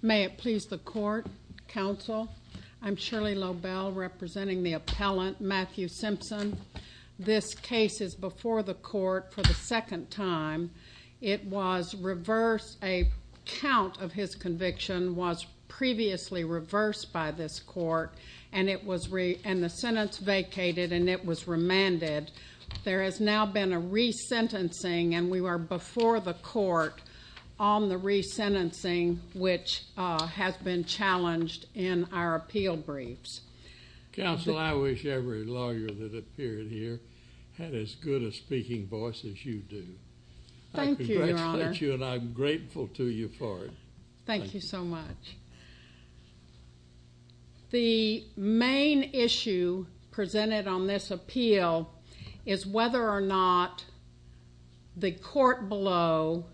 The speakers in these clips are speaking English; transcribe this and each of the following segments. May it please the court, counsel, I'm Shirley Lobel representing the appellant Matthew Simpson. This case is before the court for the second time. It was reversed, a count of his conviction was previously reversed by this court and it was and the sentence vacated and it was remanded. There has now been a re-sentencing and we were before the court on the re-sentencing which has been challenged in our appeal briefs. Counsel, I wish every lawyer that appeared here had as good a speaking voice as you do. Thank you, your honor. I congratulate you and I'm grateful to you for it. Thank you so much. The main issue presented on this appeal is whether or not the court below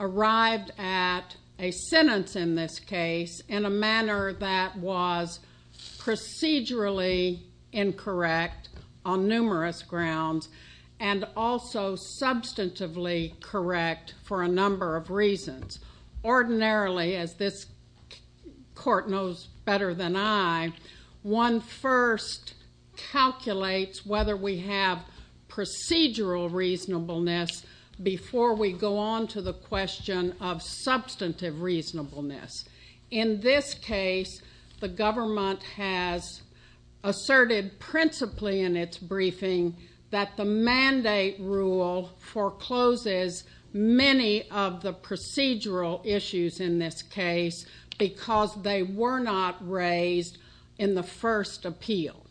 arrived at a sentence in this case in a manner that was procedurally incorrect on numerous grounds and also substantively correct for a number of reasons. Ordinarily, as this court knows better than I, one first calculates whether we have procedural reasonableness before we go on to the question of substantive reasonableness. In this case, the government has asserted principally in its briefing that the mandate rule forecloses many of the procedural issues in this case because they were not raised in the first appeal.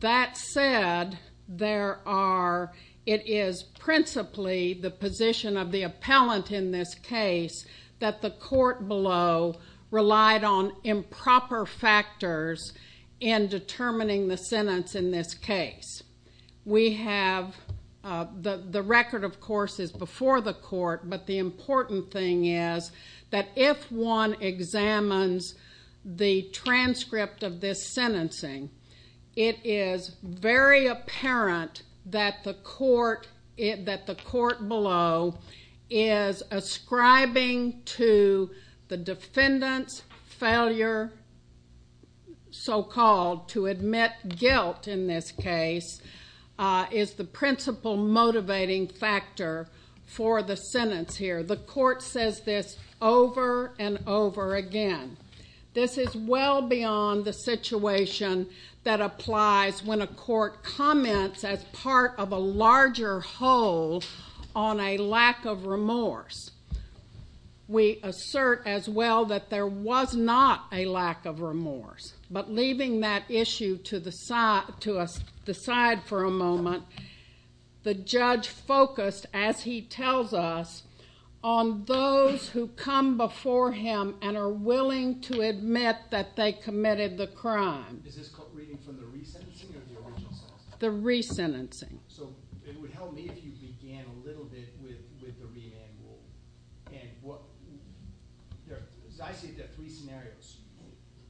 That said, it is principally the position of the appellant in this case that the court below relied on improper factors in determining the sentence in this case. We have... the record, of course, is before the court, but the important thing is that if one examines the transcript of this sentencing, it is very apparent that the court below is Ascribing to the defendant's failure, so-called, to admit guilt in this case is the principal motivating factor for the sentence here. The court says this over and over again. This is well beyond the situation that applies when a court comments as part of a larger whole on a lack of remorse. We assert as well that there was not a lack of remorse, but leaving that issue to the side for a moment, the judge focused, as he tells us, on those who come before him and are willing to admit that they committed the crime. Is this reading from the resentencing or the original sentence? The resentencing. So it would help me if you began a little bit with the remand rule, and what... as I see it, there are three scenarios.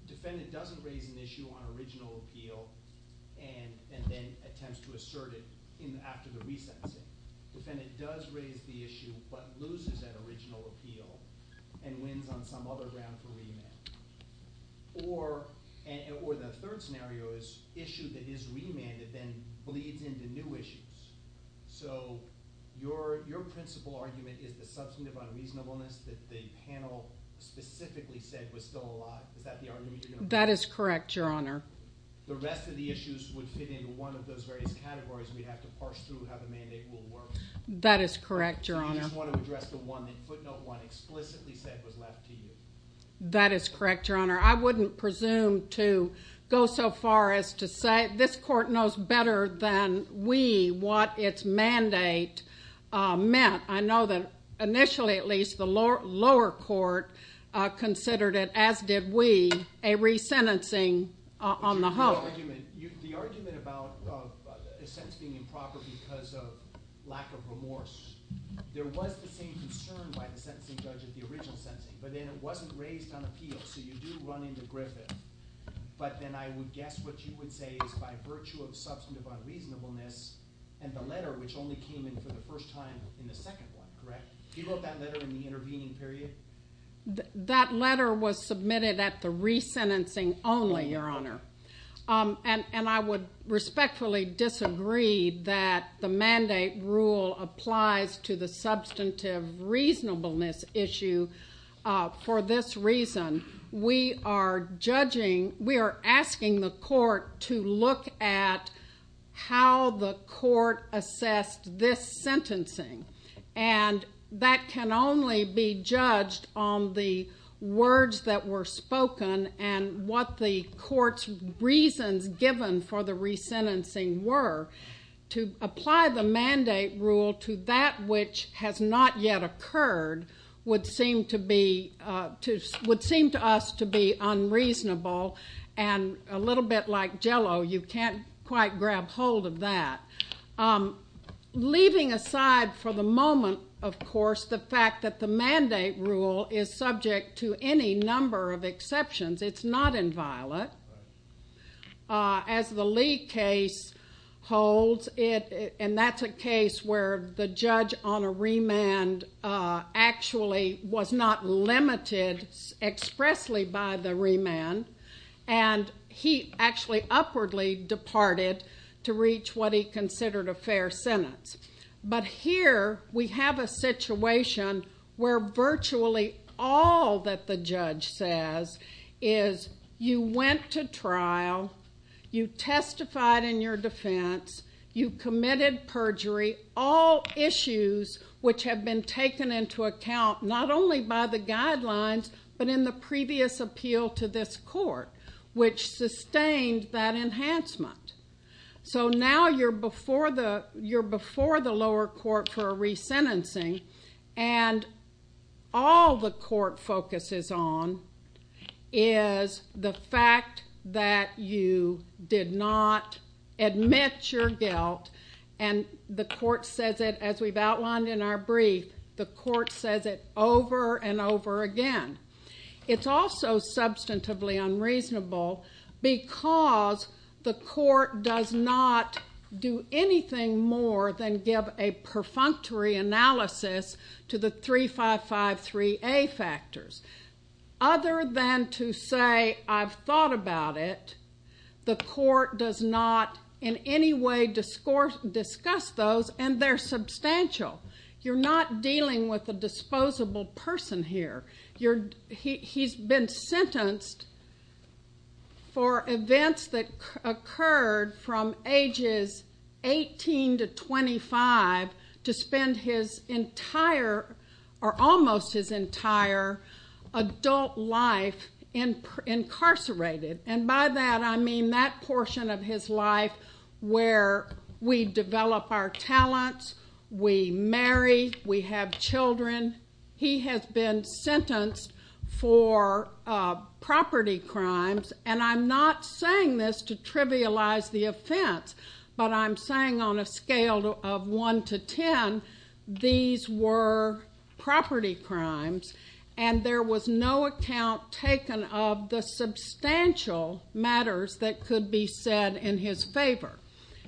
Defendant doesn't raise an issue on original appeal and then attempts to assert it after the resentencing. Defendant does raise the issue, but loses that original appeal and wins on some other ground for remand. Or the third scenario is an issue that is remanded then bleeds into new issues. So your principal argument is the substantive unreasonableness that the panel specifically said was still alive. Is that the argument you're going to... That is correct, Your Honor. The rest of the issues would fit into one of those various categories, and we'd have to parse through how the mandate will work. That is correct, Your Honor. Or do you just want to address the one that footnote one explicitly said was left to you? That is correct, Your Honor. I wouldn't presume to go so far as to say this court knows better than we what its mandate meant. I know that initially, at least, the lower court considered it, as did we, a resentencing on the whole. The argument about a sentence being improper because of lack of remorse. There was the same concern by the sentencing judge at the original sentencing, but then it wasn't raised on appeal, so you do run into Griffith. But then I would guess what you would say is by virtue of substantive unreasonableness and the letter, which only came in for the first time in the second one, correct? He wrote that letter in the intervening period? That letter was submitted at the resentencing only, Your Honor. And I would respectfully disagree that the mandate rule applies to the substantive reasonableness issue. For this reason, we are asking the court to look at how the court assessed this sentencing. And that can only be judged on the words that were spoken and what the court's reasons given for the resentencing were. To apply the mandate rule to that which has not yet occurred would seem to us to be unreasonable and a little bit like Jell-O. You can't quite grab hold of that. Leaving aside for the moment, of course, the fact that the mandate rule is subject to any number of exceptions. It's not inviolate. As the Lee case holds, and that's a case where the judge on a remand actually was not But here we have a situation where virtually all that the judge says is you went to trial, you testified in your defense, you committed perjury, all issues which have been taken into account not only by the guidelines but in the previous appeal to this court, which sustained that enhancement. So now you're before the lower court for a resentencing and all the court focuses on is the fact that you did not admit your guilt and the court says it, as we've outlined in our brief, the court says it over and over again. It's also substantively unreasonable because the court does not do anything more than give a perfunctory analysis to the 3553A factors. Other than to say I've thought about it, the court does not in any way discuss those and they're substantial. You're not dealing with a disposable person here. He's been sentenced for events that occurred from ages 18 to 25 to spend his entire or almost his entire adult life incarcerated and by that I mean that portion of his life where we develop our talents, we marry, we have children. He has been sentenced for property crimes and I'm not saying this to trivialize the offense but I'm saying on a scale of one to ten, these were property crimes and there was no account taken of the substantial matters that could be said in his favor.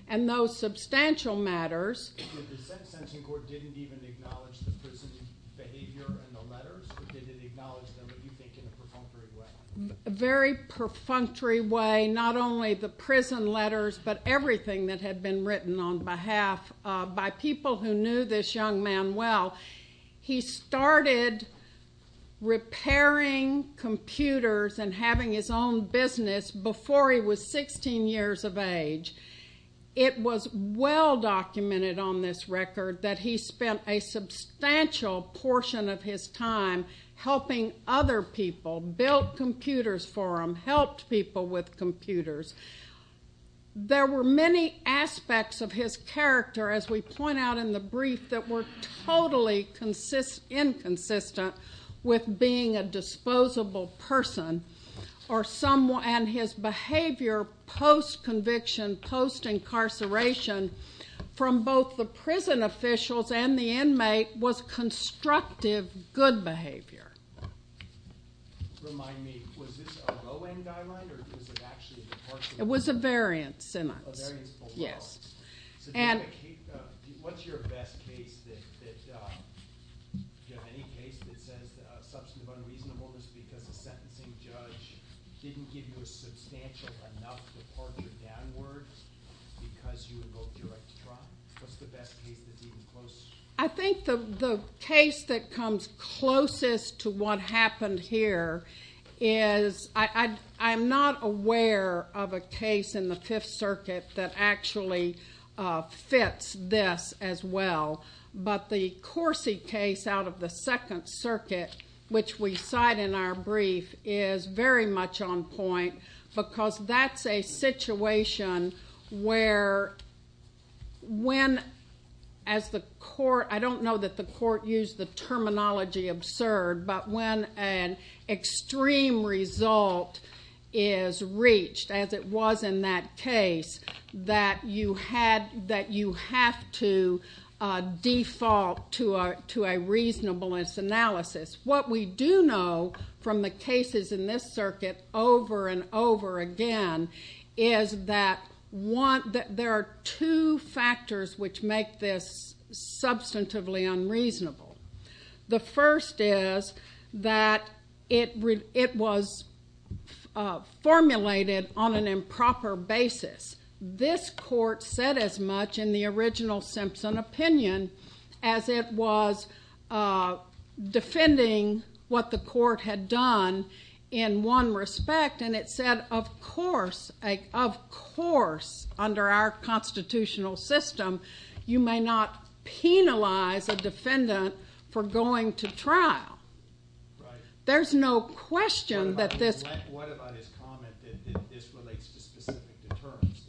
And those substantial matters... The sentencing court didn't even acknowledge the prison behavior in the letters or did it acknowledge them, do you think, in a perfunctory way? A very perfunctory way. Not only the prison letters but everything that had been written on behalf by people who knew this young man well. He started repairing computers and having his own business before he was 16 years of age. It was well documented on this record that he spent a substantial portion of his time helping other people, built computers for them, helped people with computers. There were many aspects of his character, as we point out in the brief, that were totally inconsistent with being a disposable person and his behavior post-conviction, post-incarceration from both the prison officials and the inmate was constructive, good behavior. Remind me, was this a low-end guideline or was it actually a departure? It was a variance in us. A variance below us. Yes. And... What's your best case that... Do you have any case that says substantive unreasonableness because the sentencing judge didn't give you a substantial enough departure downward because you invoked direct trial? What's the best case that's even close... I think the case that comes closest to what happened here is... I'm not aware of a case in the Fifth Circuit that actually fits this as well, but the Corsi case out of the Second Circuit, which we cite in our brief, is very much on point because that's a situation where when, as the court... I don't know that the court used the terminology absurd, but when an extreme result is reached, as it was in that case, that you have to default to a reasonableness analysis. What we do know from the cases in this circuit over and over again is that there are two factors which make this substantively unreasonable. The first is that it was formulated on an improper basis. This court said as much in the original Simpson opinion as it was defending what the court had done in one respect, and it said, of course, under our constitutional system, you may not penalize a defendant for going to trial. There's no question that this... that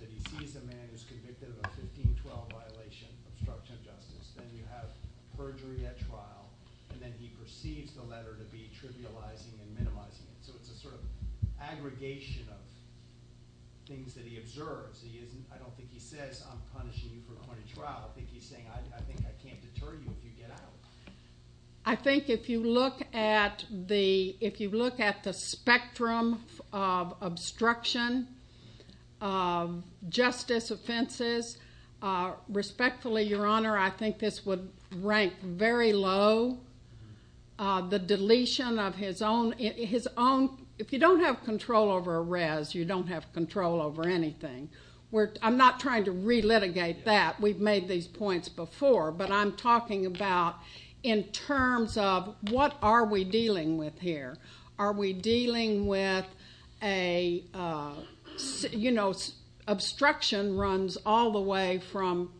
he sees a man who's convicted of a 1512 violation of obstruction of justice. Then you have perjury at trial, and then he perceives the letter to be trivializing and minimizing it. It's a sort of aggregation of things that he observes. I don't think he says, I'm punishing you for going to trial. I think he's saying, I think I can't deter you if you get out. I think if you look at the spectrum of obstruction of justice offenses, respectfully, Your Honor, I think this would rank very low. The deletion of his own... If you don't have control over arrests, you don't have control over anything. I'm not trying to relitigate that. We've made these points before, but I'm talking about in terms of what are we dealing with here. Are we dealing with a... You know, obstruction runs all the way from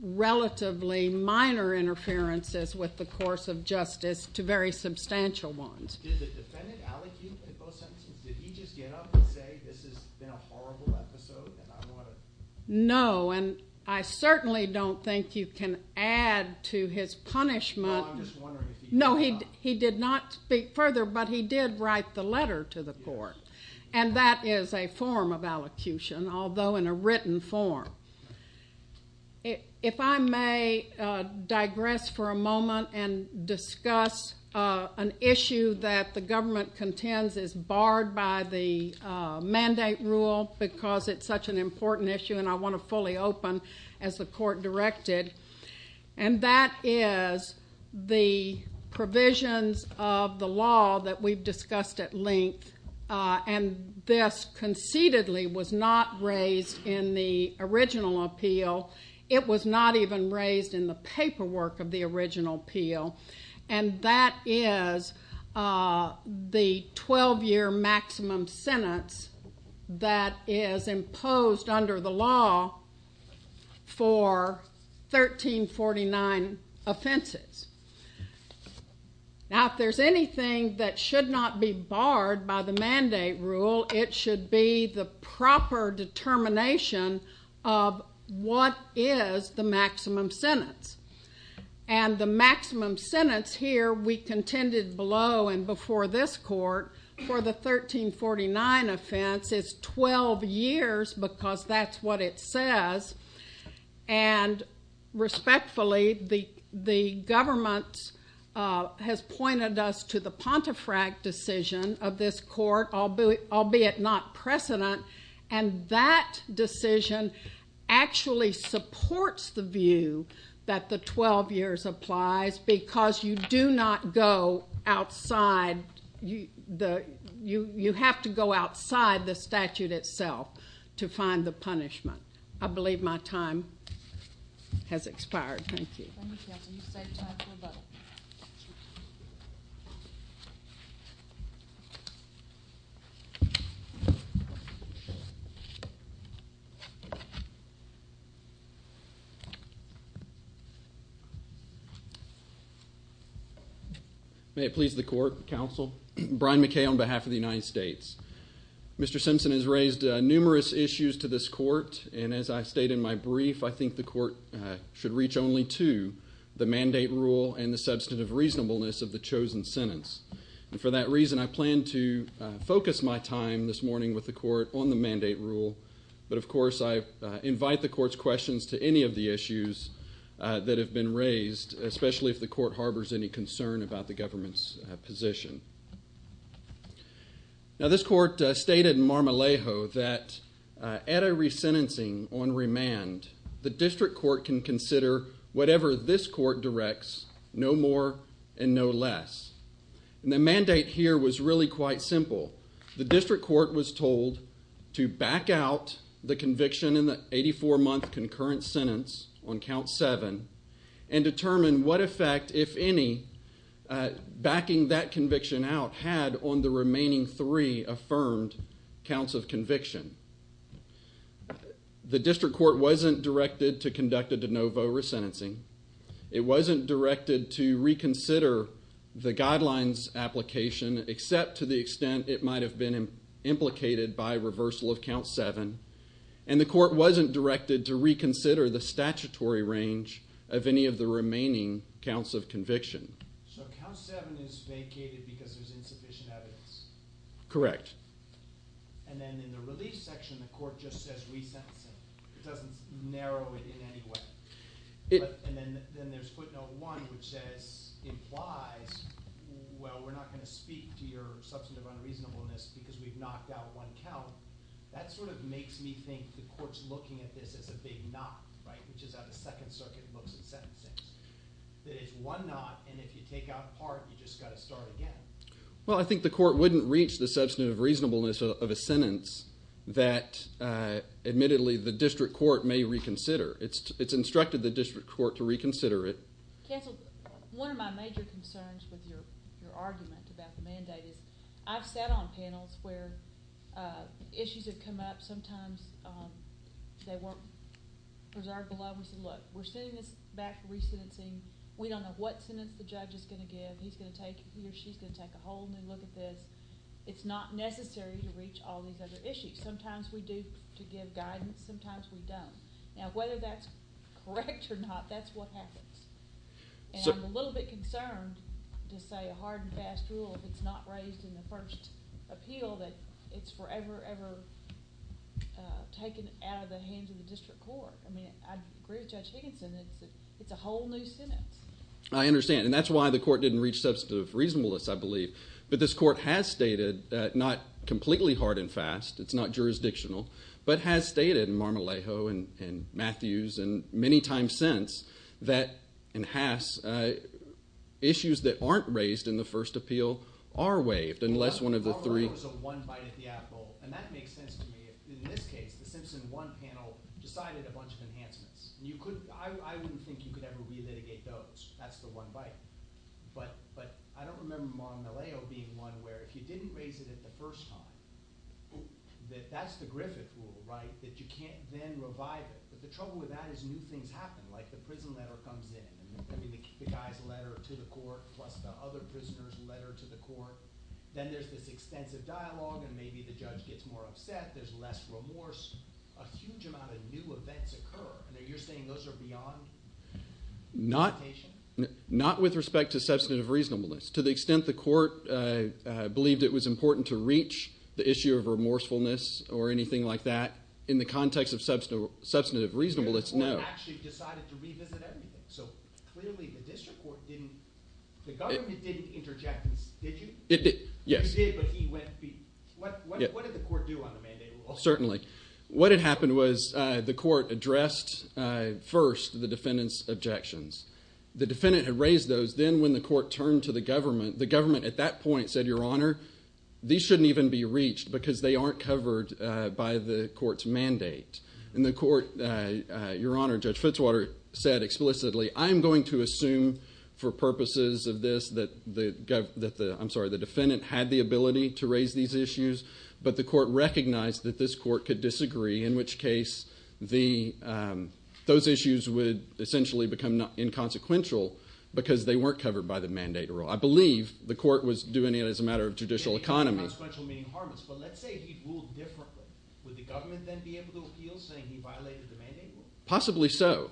relatively minor interferences with the course of justice to very substantial ones. Did the defendant allocate those sentences? Did he just get up and say, this has been a horrible episode, and I want to... No, and I certainly don't think you can add to his punishment... No, I'm just wondering if he... No, he did not speak further, but he did write the letter to the court. And that is a form of allocution, although in a written form. If I may digress for a moment and discuss an issue that the government contends is barred by the mandate rule because it's such an important issue and I want to fully open as the court directed. And that is the provisions of the law that we've discussed at length. And this concededly was not raised in the original appeal. It was not even raised in the paperwork of the original appeal. And that is the 12-year maximum sentence that is imposed under the law for 1349 offenses. Now, if there's anything that should not be barred by the mandate rule, it should be the proper determination of what is the maximum sentence. And the maximum sentence here we contended below and before this court for the 1349 offense is 12 years because that's what it says. And respectfully, the government has pointed us to the Pontefract decision of this court, albeit not precedent, and that decision actually supports the view that the 12 years applies because you do not go outside. You have to go outside the statute itself to find the punishment. I believe my time has expired. Thank you. Thank you, counsel. You've saved time for the vote. May it please the court, counsel. Brian McKay on behalf of the United States. Mr. Simpson has raised numerous issues to this court. And as I state in my brief, I think the court should reach only to the mandate rule and the substantive reasonableness of the chosen sentence. And for that reason, I plan to focus my time this morning with the court on the mandate rule. But, of course, I invite the court's questions to any of the issues that have been raised, especially if the court harbors any concern about the government's position. Now, this court stated in Marmolejo that at a resentencing on remand, the district court can consider whatever this court directs, no more and no less. And the mandate here was really quite simple. The district court was told to back out the conviction in the 84-month concurrent sentence on count seven and determine what effect, if any, backing that conviction out had on the remaining three affirmed counts of conviction. The district court wasn't directed to conduct a de novo resentencing. It wasn't directed to reconsider the guidelines application, except to the extent it might have been implicated by reversal of count seven. And the court wasn't directed to reconsider the statutory range of any of the remaining counts of conviction. So count seven is vacated because there's insufficient evidence? Correct. And then in the relief section, the court just says resentencing. It doesn't narrow it in any way. And then there's footnote one, which says – implies – well, we're not going to speak to your substantive unreasonableness because we've knocked out one count. That sort of makes me think the court's looking at this as a big knot, right, which is how the Second Circuit looks at sentencing. That it's one knot, and if you take out part, you've just got to start again. Well, I think the court wouldn't reach the substantive reasonableness of a sentence that, admittedly, the district court may reconsider. It's instructed the district court to reconsider it. Cancel. One of my major concerns with your argument about the mandate is I've sat on panels where issues have come up. Sometimes they weren't preserved below. We said, look, we're sending this back for resentencing. We don't know what sentence the judge is going to give. He's going to take – he or she's going to take a whole new look at this. It's not necessary to reach all these other issues. Sometimes we do to give guidance. Sometimes we don't. Now, whether that's correct or not, that's what happens. And I'm a little bit concerned to say a hard and fast rule, if it's not raised in the first appeal, that it's forever, ever taken out of the hands of the district court. I mean, I agree with Judge Higginson. It's a whole new sentence. I understand. And that's why the court didn't reach substantive reasonableness, I believe. But this court has stated, not completely hard and fast, it's not jurisdictional, but has stated in Marmolejo and Matthews and many times since that – and Haas – issues that aren't raised in the first appeal are waived unless one of the three – And that makes sense to me. In this case, the Simpson 1 panel decided a bunch of enhancements. You could – I wouldn't think you could ever relitigate those. That's the one bite. But I don't remember Marmolejo being one where if you didn't raise it at the first time, that that's the Griffith rule, right? That you can't then revive it. But the trouble with that is new things happen. Like the prison letter comes in. I mean, the guy's letter to the court plus the other prisoner's letter to the court. Then there's this extensive dialogue and maybe the judge gets more upset. There's less remorse. A huge amount of new events occur. And you're saying those are beyond limitation? Not with respect to substantive reasonableness. To the extent the court believed it was important to reach the issue of remorsefulness or anything like that, in the context of substantive reasonableness, no. Or actually decided to revisit everything. So clearly the district court didn't – the government didn't interject. Did you? It did. Yes. You did, but he went beef. What did the court do on the mandate rule? Certainly. What had happened was the court addressed first the defendant's objections. The defendant had raised those. Then when the court turned to the government, the government at that point said, Your Honor, these shouldn't even be reached because they aren't covered by the court's mandate. And the court, Your Honor, Judge Fitzwater said explicitly, I'm going to assume for purposes of this that the – I'm sorry, the defendant had the ability to raise these issues. But the court recognized that this court could disagree, in which case those issues would essentially become inconsequential because they weren't covered by the mandate rule. I believe the court was doing it as a matter of judicial economy. Inconsequential meaning harmless. But let's say he ruled differently. Would the government then be able to appeal saying he violated the mandate rule? Possibly so.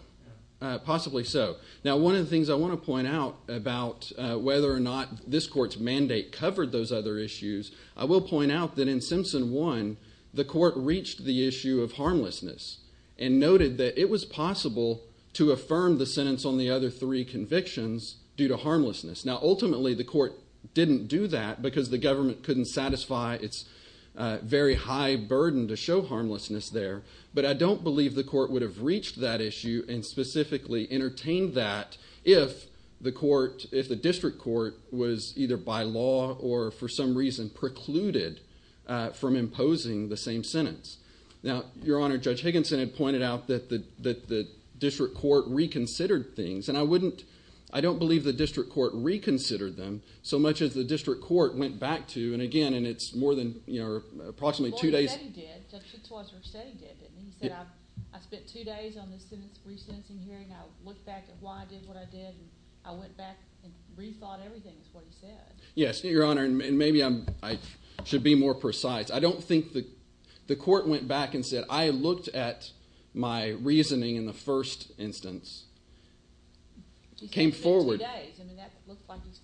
Possibly so. Now one of the things I want to point out about whether or not this court's mandate covered those other issues, I will point out that in Simpson 1, the court reached the issue of harmlessness and noted that it was possible to affirm the sentence on the other three convictions due to harmlessness. Now ultimately the court didn't do that because the government couldn't satisfy its very high burden to show harmlessness there. But I don't believe the court would have reached that issue and specifically entertained that if the court – if the district court was either by law or for some reason precluded from imposing the same sentence. Now, Your Honor, Judge Higginson had pointed out that the district court reconsidered things. And I wouldn't – I don't believe the district court reconsidered them so much as the district court went back to. And again, and it's more than approximately two days. He said he did. Judge Fitzwater said he did, didn't he? He said, I spent two days on the sentence recensing hearing. I looked back at why I did what I did. I went back and rethought everything is what he said. Yes, Your Honor, and maybe I should be more precise. I don't think the court went back and said, I looked at my reasoning in the first instance. He said he spent two days. I mean that looks like he's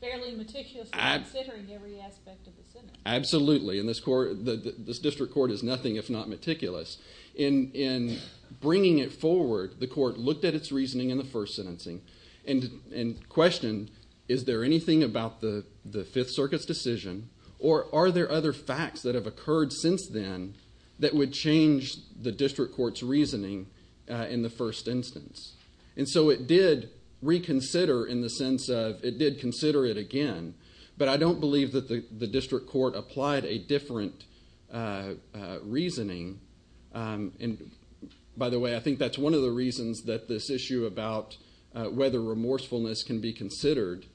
fairly meticulous in considering every aspect of the sentence. Absolutely, and this court – this district court is nothing if not meticulous. In bringing it forward, the court looked at its reasoning in the first sentencing and questioned is there anything about the Fifth Circuit's decision or are there other facts that have occurred since then that would change the district court's reasoning in the first instance. And so it did reconsider in the sense of it did consider it again. But I don't believe that the district court applied a different reasoning. And by the way, I think that's one of the reasons that this issue about whether remorsefulness can be considered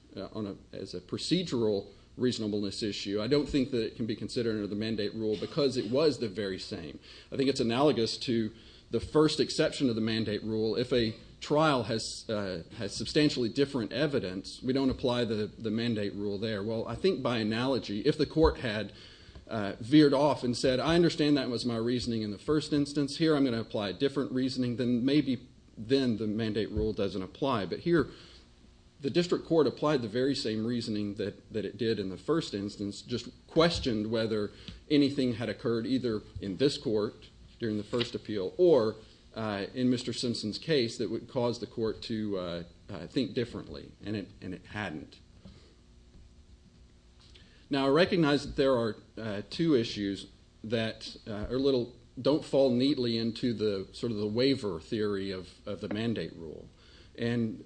as a procedural reasonableness issue, I don't think that it can be considered under the mandate rule because it was the very same. I think it's analogous to the first exception to the mandate rule. If a trial has substantially different evidence, we don't apply the mandate rule there. Well, I think by analogy, if the court had veered off and said, I understand that was my reasoning in the first instance, here I'm going to apply a different reasoning, then maybe then the mandate rule doesn't apply. But here the district court applied the very same reasoning that it did in the first instance, just questioned whether anything had occurred either in this court during the first appeal or in Mr. Simpson's case that would cause the court to think differently, and it hadn't. Now, I recognize that there are two issues that don't fall neatly into sort of the waiver theory of the mandate rule. And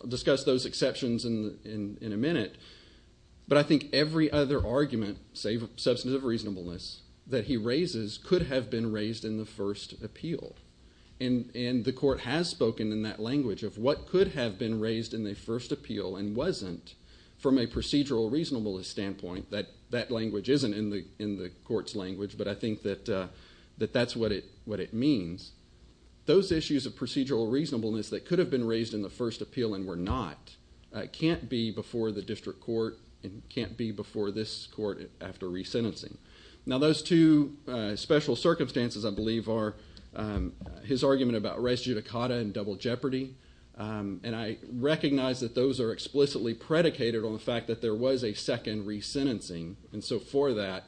I'll discuss those exceptions in a minute. But I think every other argument, say substantive reasonableness, that he raises could have been raised in the first appeal. And the court has spoken in that language of what could have been raised in the first appeal and wasn't from a procedural reasonableness standpoint. That language isn't in the court's language, but I think that that's what it means. Those issues of procedural reasonableness that could have been raised in the first appeal and were not can't be before the district court and can't be before this court after resentencing. Now, those two special circumstances, I believe, are his argument about res judicata and double jeopardy. And I recognize that those are explicitly predicated on the fact that there was a second resentencing. And so for that,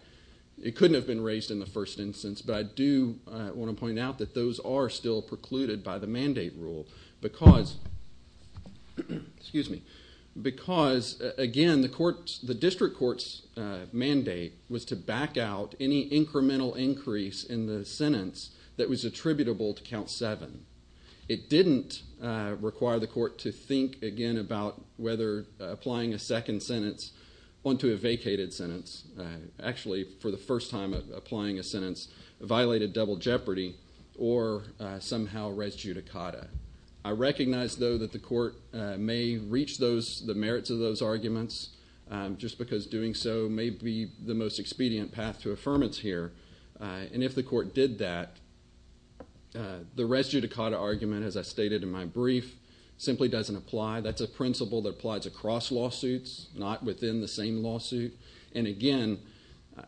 it couldn't have been raised in the first instance. But I do want to point out that those are still precluded by the mandate rule because, again, the district court's mandate was to back out any incremental increase in the sentence that was attributable to count seven. It didn't require the court to think again about whether applying a second sentence onto a vacated sentence, actually for the first time applying a sentence, violated double jeopardy or somehow res judicata. I recognize, though, that the court may reach the merits of those arguments just because doing so may be the most expedient path to affirmance here. And if the court did that, the res judicata argument, as I stated in my brief, simply doesn't apply. That's a principle that applies across lawsuits, not within the same lawsuit. And, again,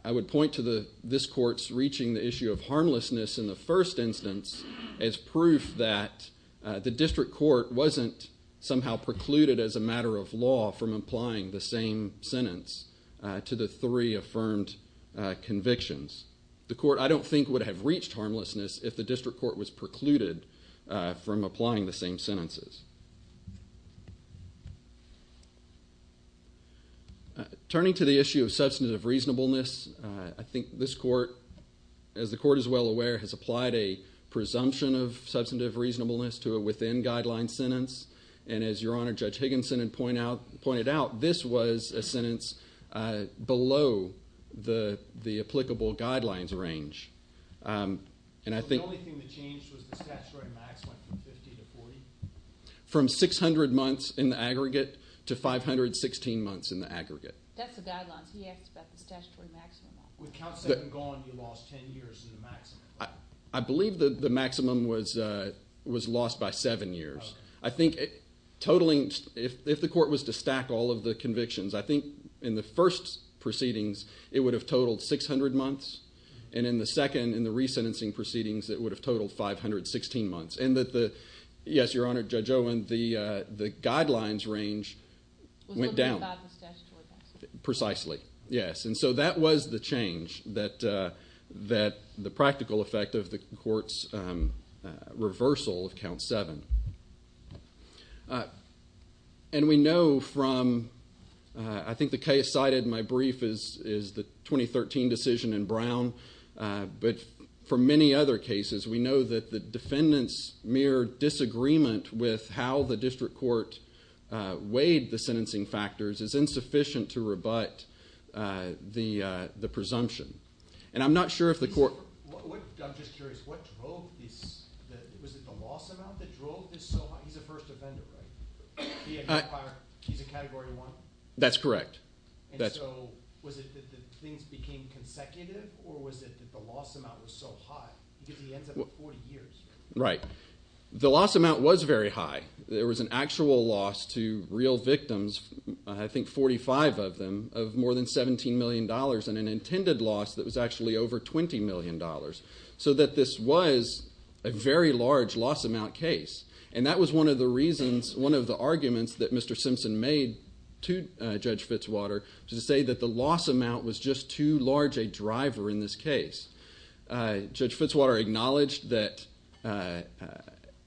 I would point to this court's reaching the issue of harmlessness in the first instance as proof that the district court wasn't somehow precluded as a matter of law from applying the same sentence to the three affirmed convictions. The court, I don't think, would have reached harmlessness if the district court was precluded from applying the same sentences. Turning to the issue of substantive reasonableness, I think this court, as the court is well aware, has applied a presumption of substantive reasonableness to a within-guideline sentence. And as Your Honor, Judge Higginson had pointed out, this was a sentence below the applicable guidelines range. The only thing that changed was the statutory maximum from 50 to 40? From 600 months in the aggregate to 516 months in the aggregate. That's the guidelines. He asked about the statutory maximum. With count seven gone, you lost 10 years in the maximum. I believe the maximum was lost by seven years. I think totaling, if the court was to stack all of the convictions, I think in the first proceedings, it would have totaled 600 months. And in the second, in the resentencing proceedings, it would have totaled 516 months. And that the, yes, Your Honor, Judge Owen, the guidelines range went down. Was looking about the statutory maximum. Precisely, yes. And so that was the change, that the practical effect of the court's reversal of count seven. And we know from, I think the case cited in my brief is the 2013 decision in Brown. But for many other cases, we know that the defendant's mere disagreement with how the district court weighed the sentencing factors is insufficient to rebut the presumption. And I'm not sure if the court. I'm just curious, what drove this? Was it the loss amount that drove this? He's a first offender, right? He's a category one? That's correct. And so was it that things became consecutive, or was it that the loss amount was so high? Because he ends up with 40 years. Right. The loss amount was very high. There was an actual loss to real victims, I think 45 of them, of more than $17 million. And an intended loss that was actually over $20 million. So that this was a very large loss amount case. And that was one of the reasons, one of the arguments that Mr. Simpson made to Judge Fitzwater, to say that the loss amount was just too large a driver in this case. Judge Fitzwater acknowledged that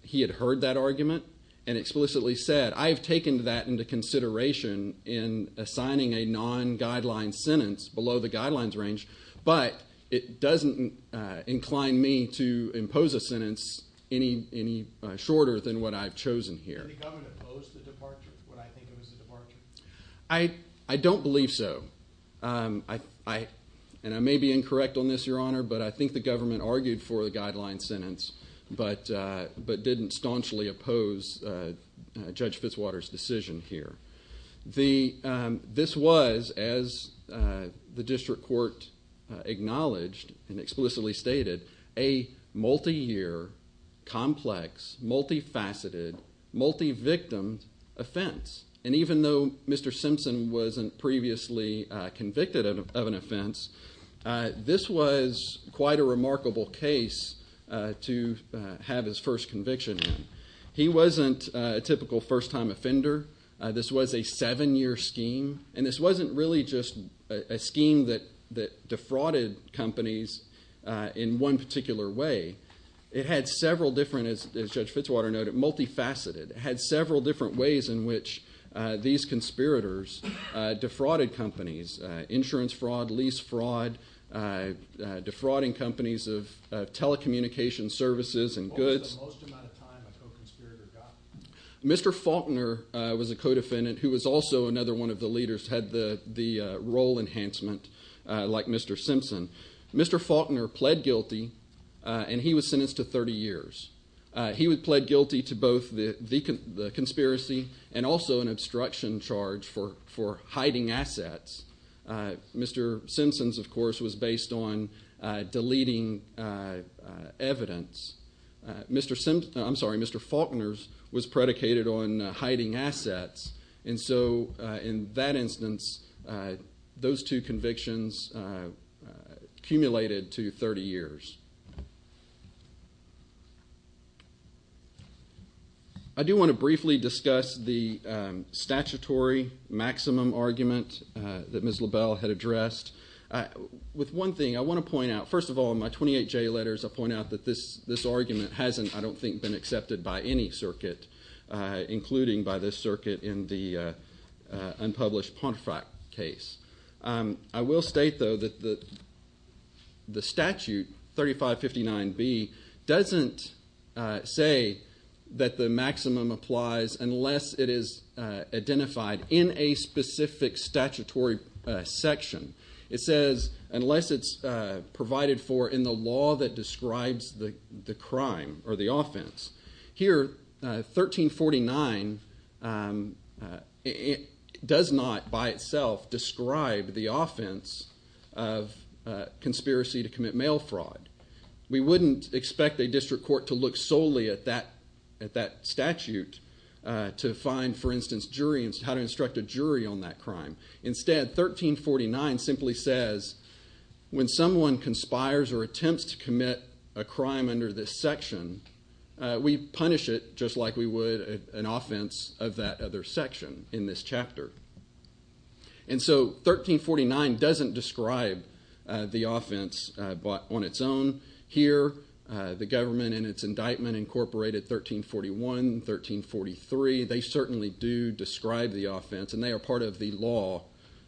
he had heard that argument and explicitly said, I've taken that into consideration in assigning a non-guideline sentence below the guidelines range, but it doesn't incline me to impose a sentence any shorter than what I've chosen here. Did the government oppose the departure? What I think it was a departure. I don't believe so. And I may be incorrect on this, Your Honor, but I think the government argued for the guideline sentence, but didn't staunchly oppose Judge Fitzwater's decision here. This was, as the district court acknowledged and explicitly stated, a multi-year, complex, multifaceted, multi-victim offense. And even though Mr. Simpson wasn't previously convicted of an offense, this was quite a remarkable case to have his first conviction. He wasn't a typical first-time offender. This was a seven-year scheme. And this wasn't really just a scheme that defrauded companies in one particular way. It had several different, as Judge Fitzwater noted, multifaceted. It had several different ways in which these conspirators defrauded companies. Insurance fraud, lease fraud, defrauding companies of telecommunications services and goods. What was the most amount of time a co-conspirator got? Mr. Faulkner was a co-defendant who was also another one of the leaders, had the role enhancement like Mr. Simpson. Mr. Faulkner pled guilty, and he was sentenced to 30 years. He pled guilty to both the conspiracy and also an obstruction charge for hiding assets. Mr. Simpson's, of course, was based on deleting evidence. Mr. Simpson, I'm sorry, Mr. Faulkner's was predicated on hiding assets. And so, in that instance, those two convictions accumulated to 30 years. I do want to briefly discuss the statutory maximum argument that Ms. LaBelle had addressed. With one thing, I want to point out, first of all, in my 28J letters, I point out that this argument hasn't, I don't think, been accepted by any circuit, including by this circuit in the unpublished Pontefract case. I will state, though, that the statute, 3559B, doesn't say that the maximum applies unless it is identified in a specific statutory section. It says unless it's provided for in the law that describes the crime or the offense. Here, 1349 does not, by itself, describe the offense of conspiracy to commit mail fraud. We wouldn't expect a district court to look solely at that statute to find, for instance, how to instruct a jury on that crime. Instead, 1349 simply says when someone conspires or attempts to commit a crime under this section, we punish it just like we would an offense of that other section in this chapter. And so 1349 doesn't describe the offense on its own. Here, the government in its indictment incorporated 1341, 1343. They certainly do describe the offense, and they are part of the law.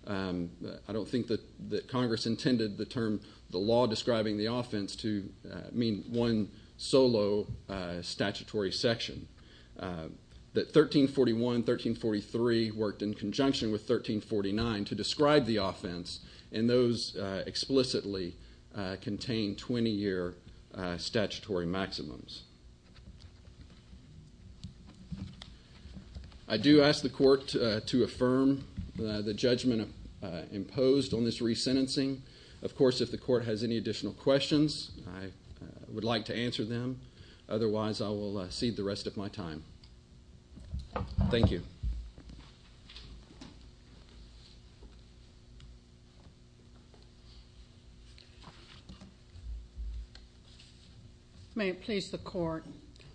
I don't think that Congress intended the term the law describing the offense to mean one solo statutory section. That 1341, 1343 worked in conjunction with 1349 to describe the offense, and those explicitly contain 20-year statutory maximums. I do ask the court to affirm the judgment imposed on this resentencing. Of course, if the court has any additional questions, I would like to answer them. Otherwise, I will cede the rest of my time. Thank you. May it please the court.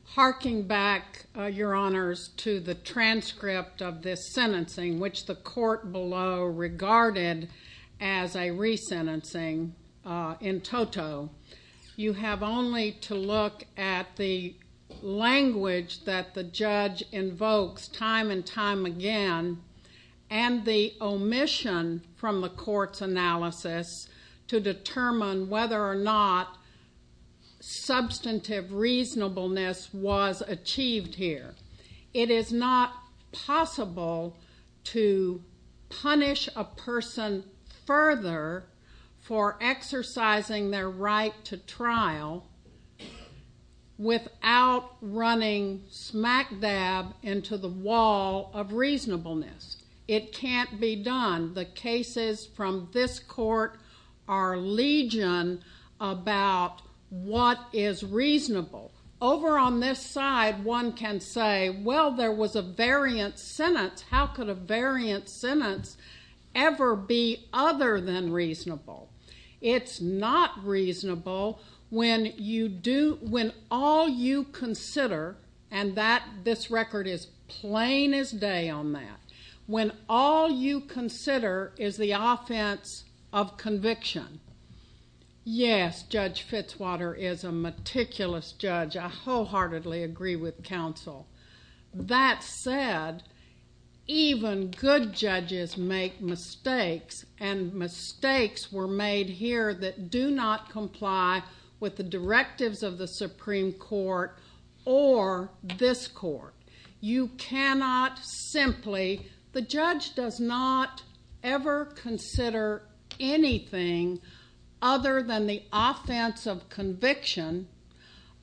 Harking back, Your Honors, to the transcript of this sentencing, which the court below regarded as a resentencing in toto, you have only to look at the language that the judge invokes time and time again and the omission from the court's analysis to determine whether or not substantive reasonableness was achieved here. It is not possible to punish a person further for exercising their right to trial without running smack dab into the wall of reasonableness. It can't be done. The cases from this court are legion about what is reasonable. Over on this side, one can say, well, there was a variant sentence. How could a variant sentence ever be other than reasonable? It's not reasonable when all you consider, and this record is plain as day on that, when all you consider is the offense of conviction. Yes, Judge Fitzwater is a meticulous judge. I wholeheartedly agree with counsel. That said, even good judges make mistakes, and mistakes were made here that do not comply with the directives of the Supreme Court or this court. You cannot simply, the judge does not ever consider anything other than the offense of conviction,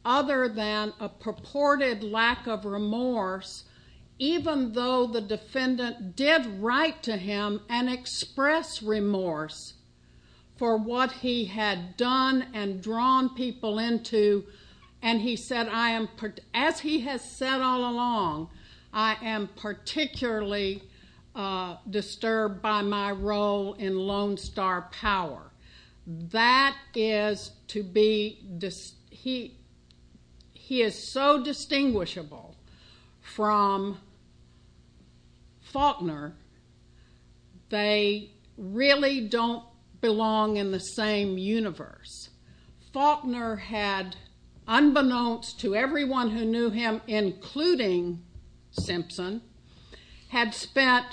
other than a purported lack of remorse, even though the defendant did write to him and express remorse for what he had done and drawn people into, and he said, as he has said all along, I am particularly disturbed by my role in Lone Star Power. That is to be, he is so distinguishable from Faulkner, they really don't belong in the same universe. Faulkner had, unbeknownst to everyone who knew him, including Simpson, had spent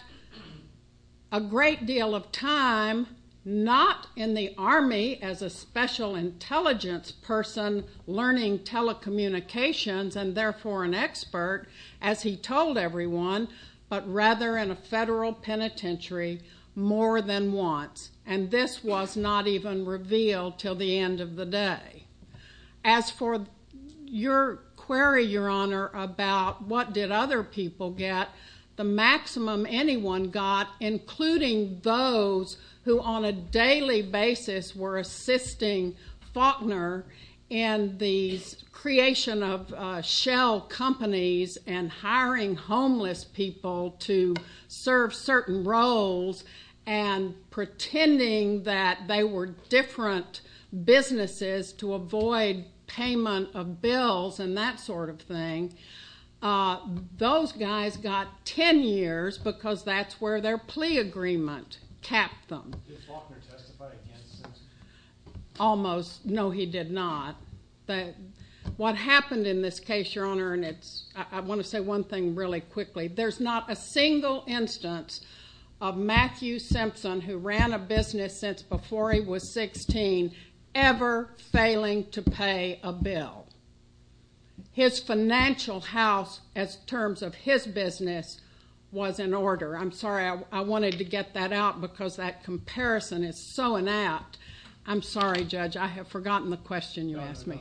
a great deal of time not in the Army as a special intelligence person learning telecommunications and therefore an expert, as he told everyone, but rather in a federal penitentiary more than once. And this was not even revealed until the end of the day. As for your query, Your Honor, about what did other people get, the maximum anyone got, including those who on a daily basis were assisting Faulkner in the creation of shell companies and hiring homeless people to serve certain roles and pretending that they were different businesses to avoid payment of bills and that sort of thing, those guys got ten years because that's where their plea agreement capped them. Did Faulkner testify against Simpson? Almost. No, he did not. What happened in this case, Your Honor, and I want to say one thing really quickly, there's not a single instance of Matthew Simpson, who ran a business since before he was 16, ever failing to pay a bill. His financial house as terms of his business was in order. I'm sorry. I wanted to get that out because that comparison is so inapt. I'm sorry, Judge. I have forgotten the question you asked me.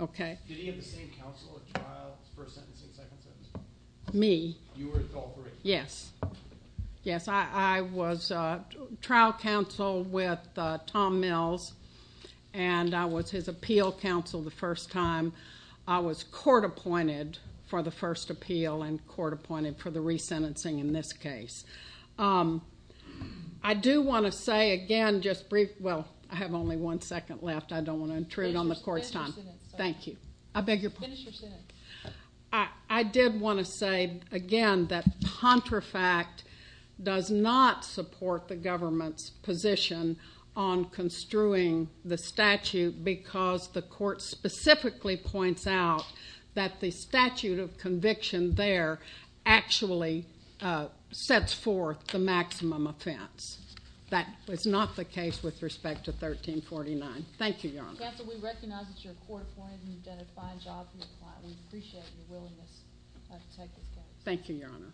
Okay. Did he have the same counsel at trial, first sentencing, second sentencing? Me? You were at all three. Yes. Yes, I was trial counsel with Tom Mills, and I was his appeal counsel the first time. I was court appointed for the first appeal and court appointed for the resentencing in this case. I do want to say, again, just briefly, well, I have only one second left. I don't want to intrude on the court's time. Finish your sentence. Thank you. I beg your pardon? Finish your sentence. I did want to say, again, that Pontefract does not support the government's position on construing the statute because the court specifically points out that the statute of conviction there actually sets forth the maximum offense. That was not the case with respect to 1349. Thank you, Your Honor. Counsel, we recognize that you're court appointed and you've done a fine job in your client. We appreciate your willingness to take this case. Thank you, Your Honor.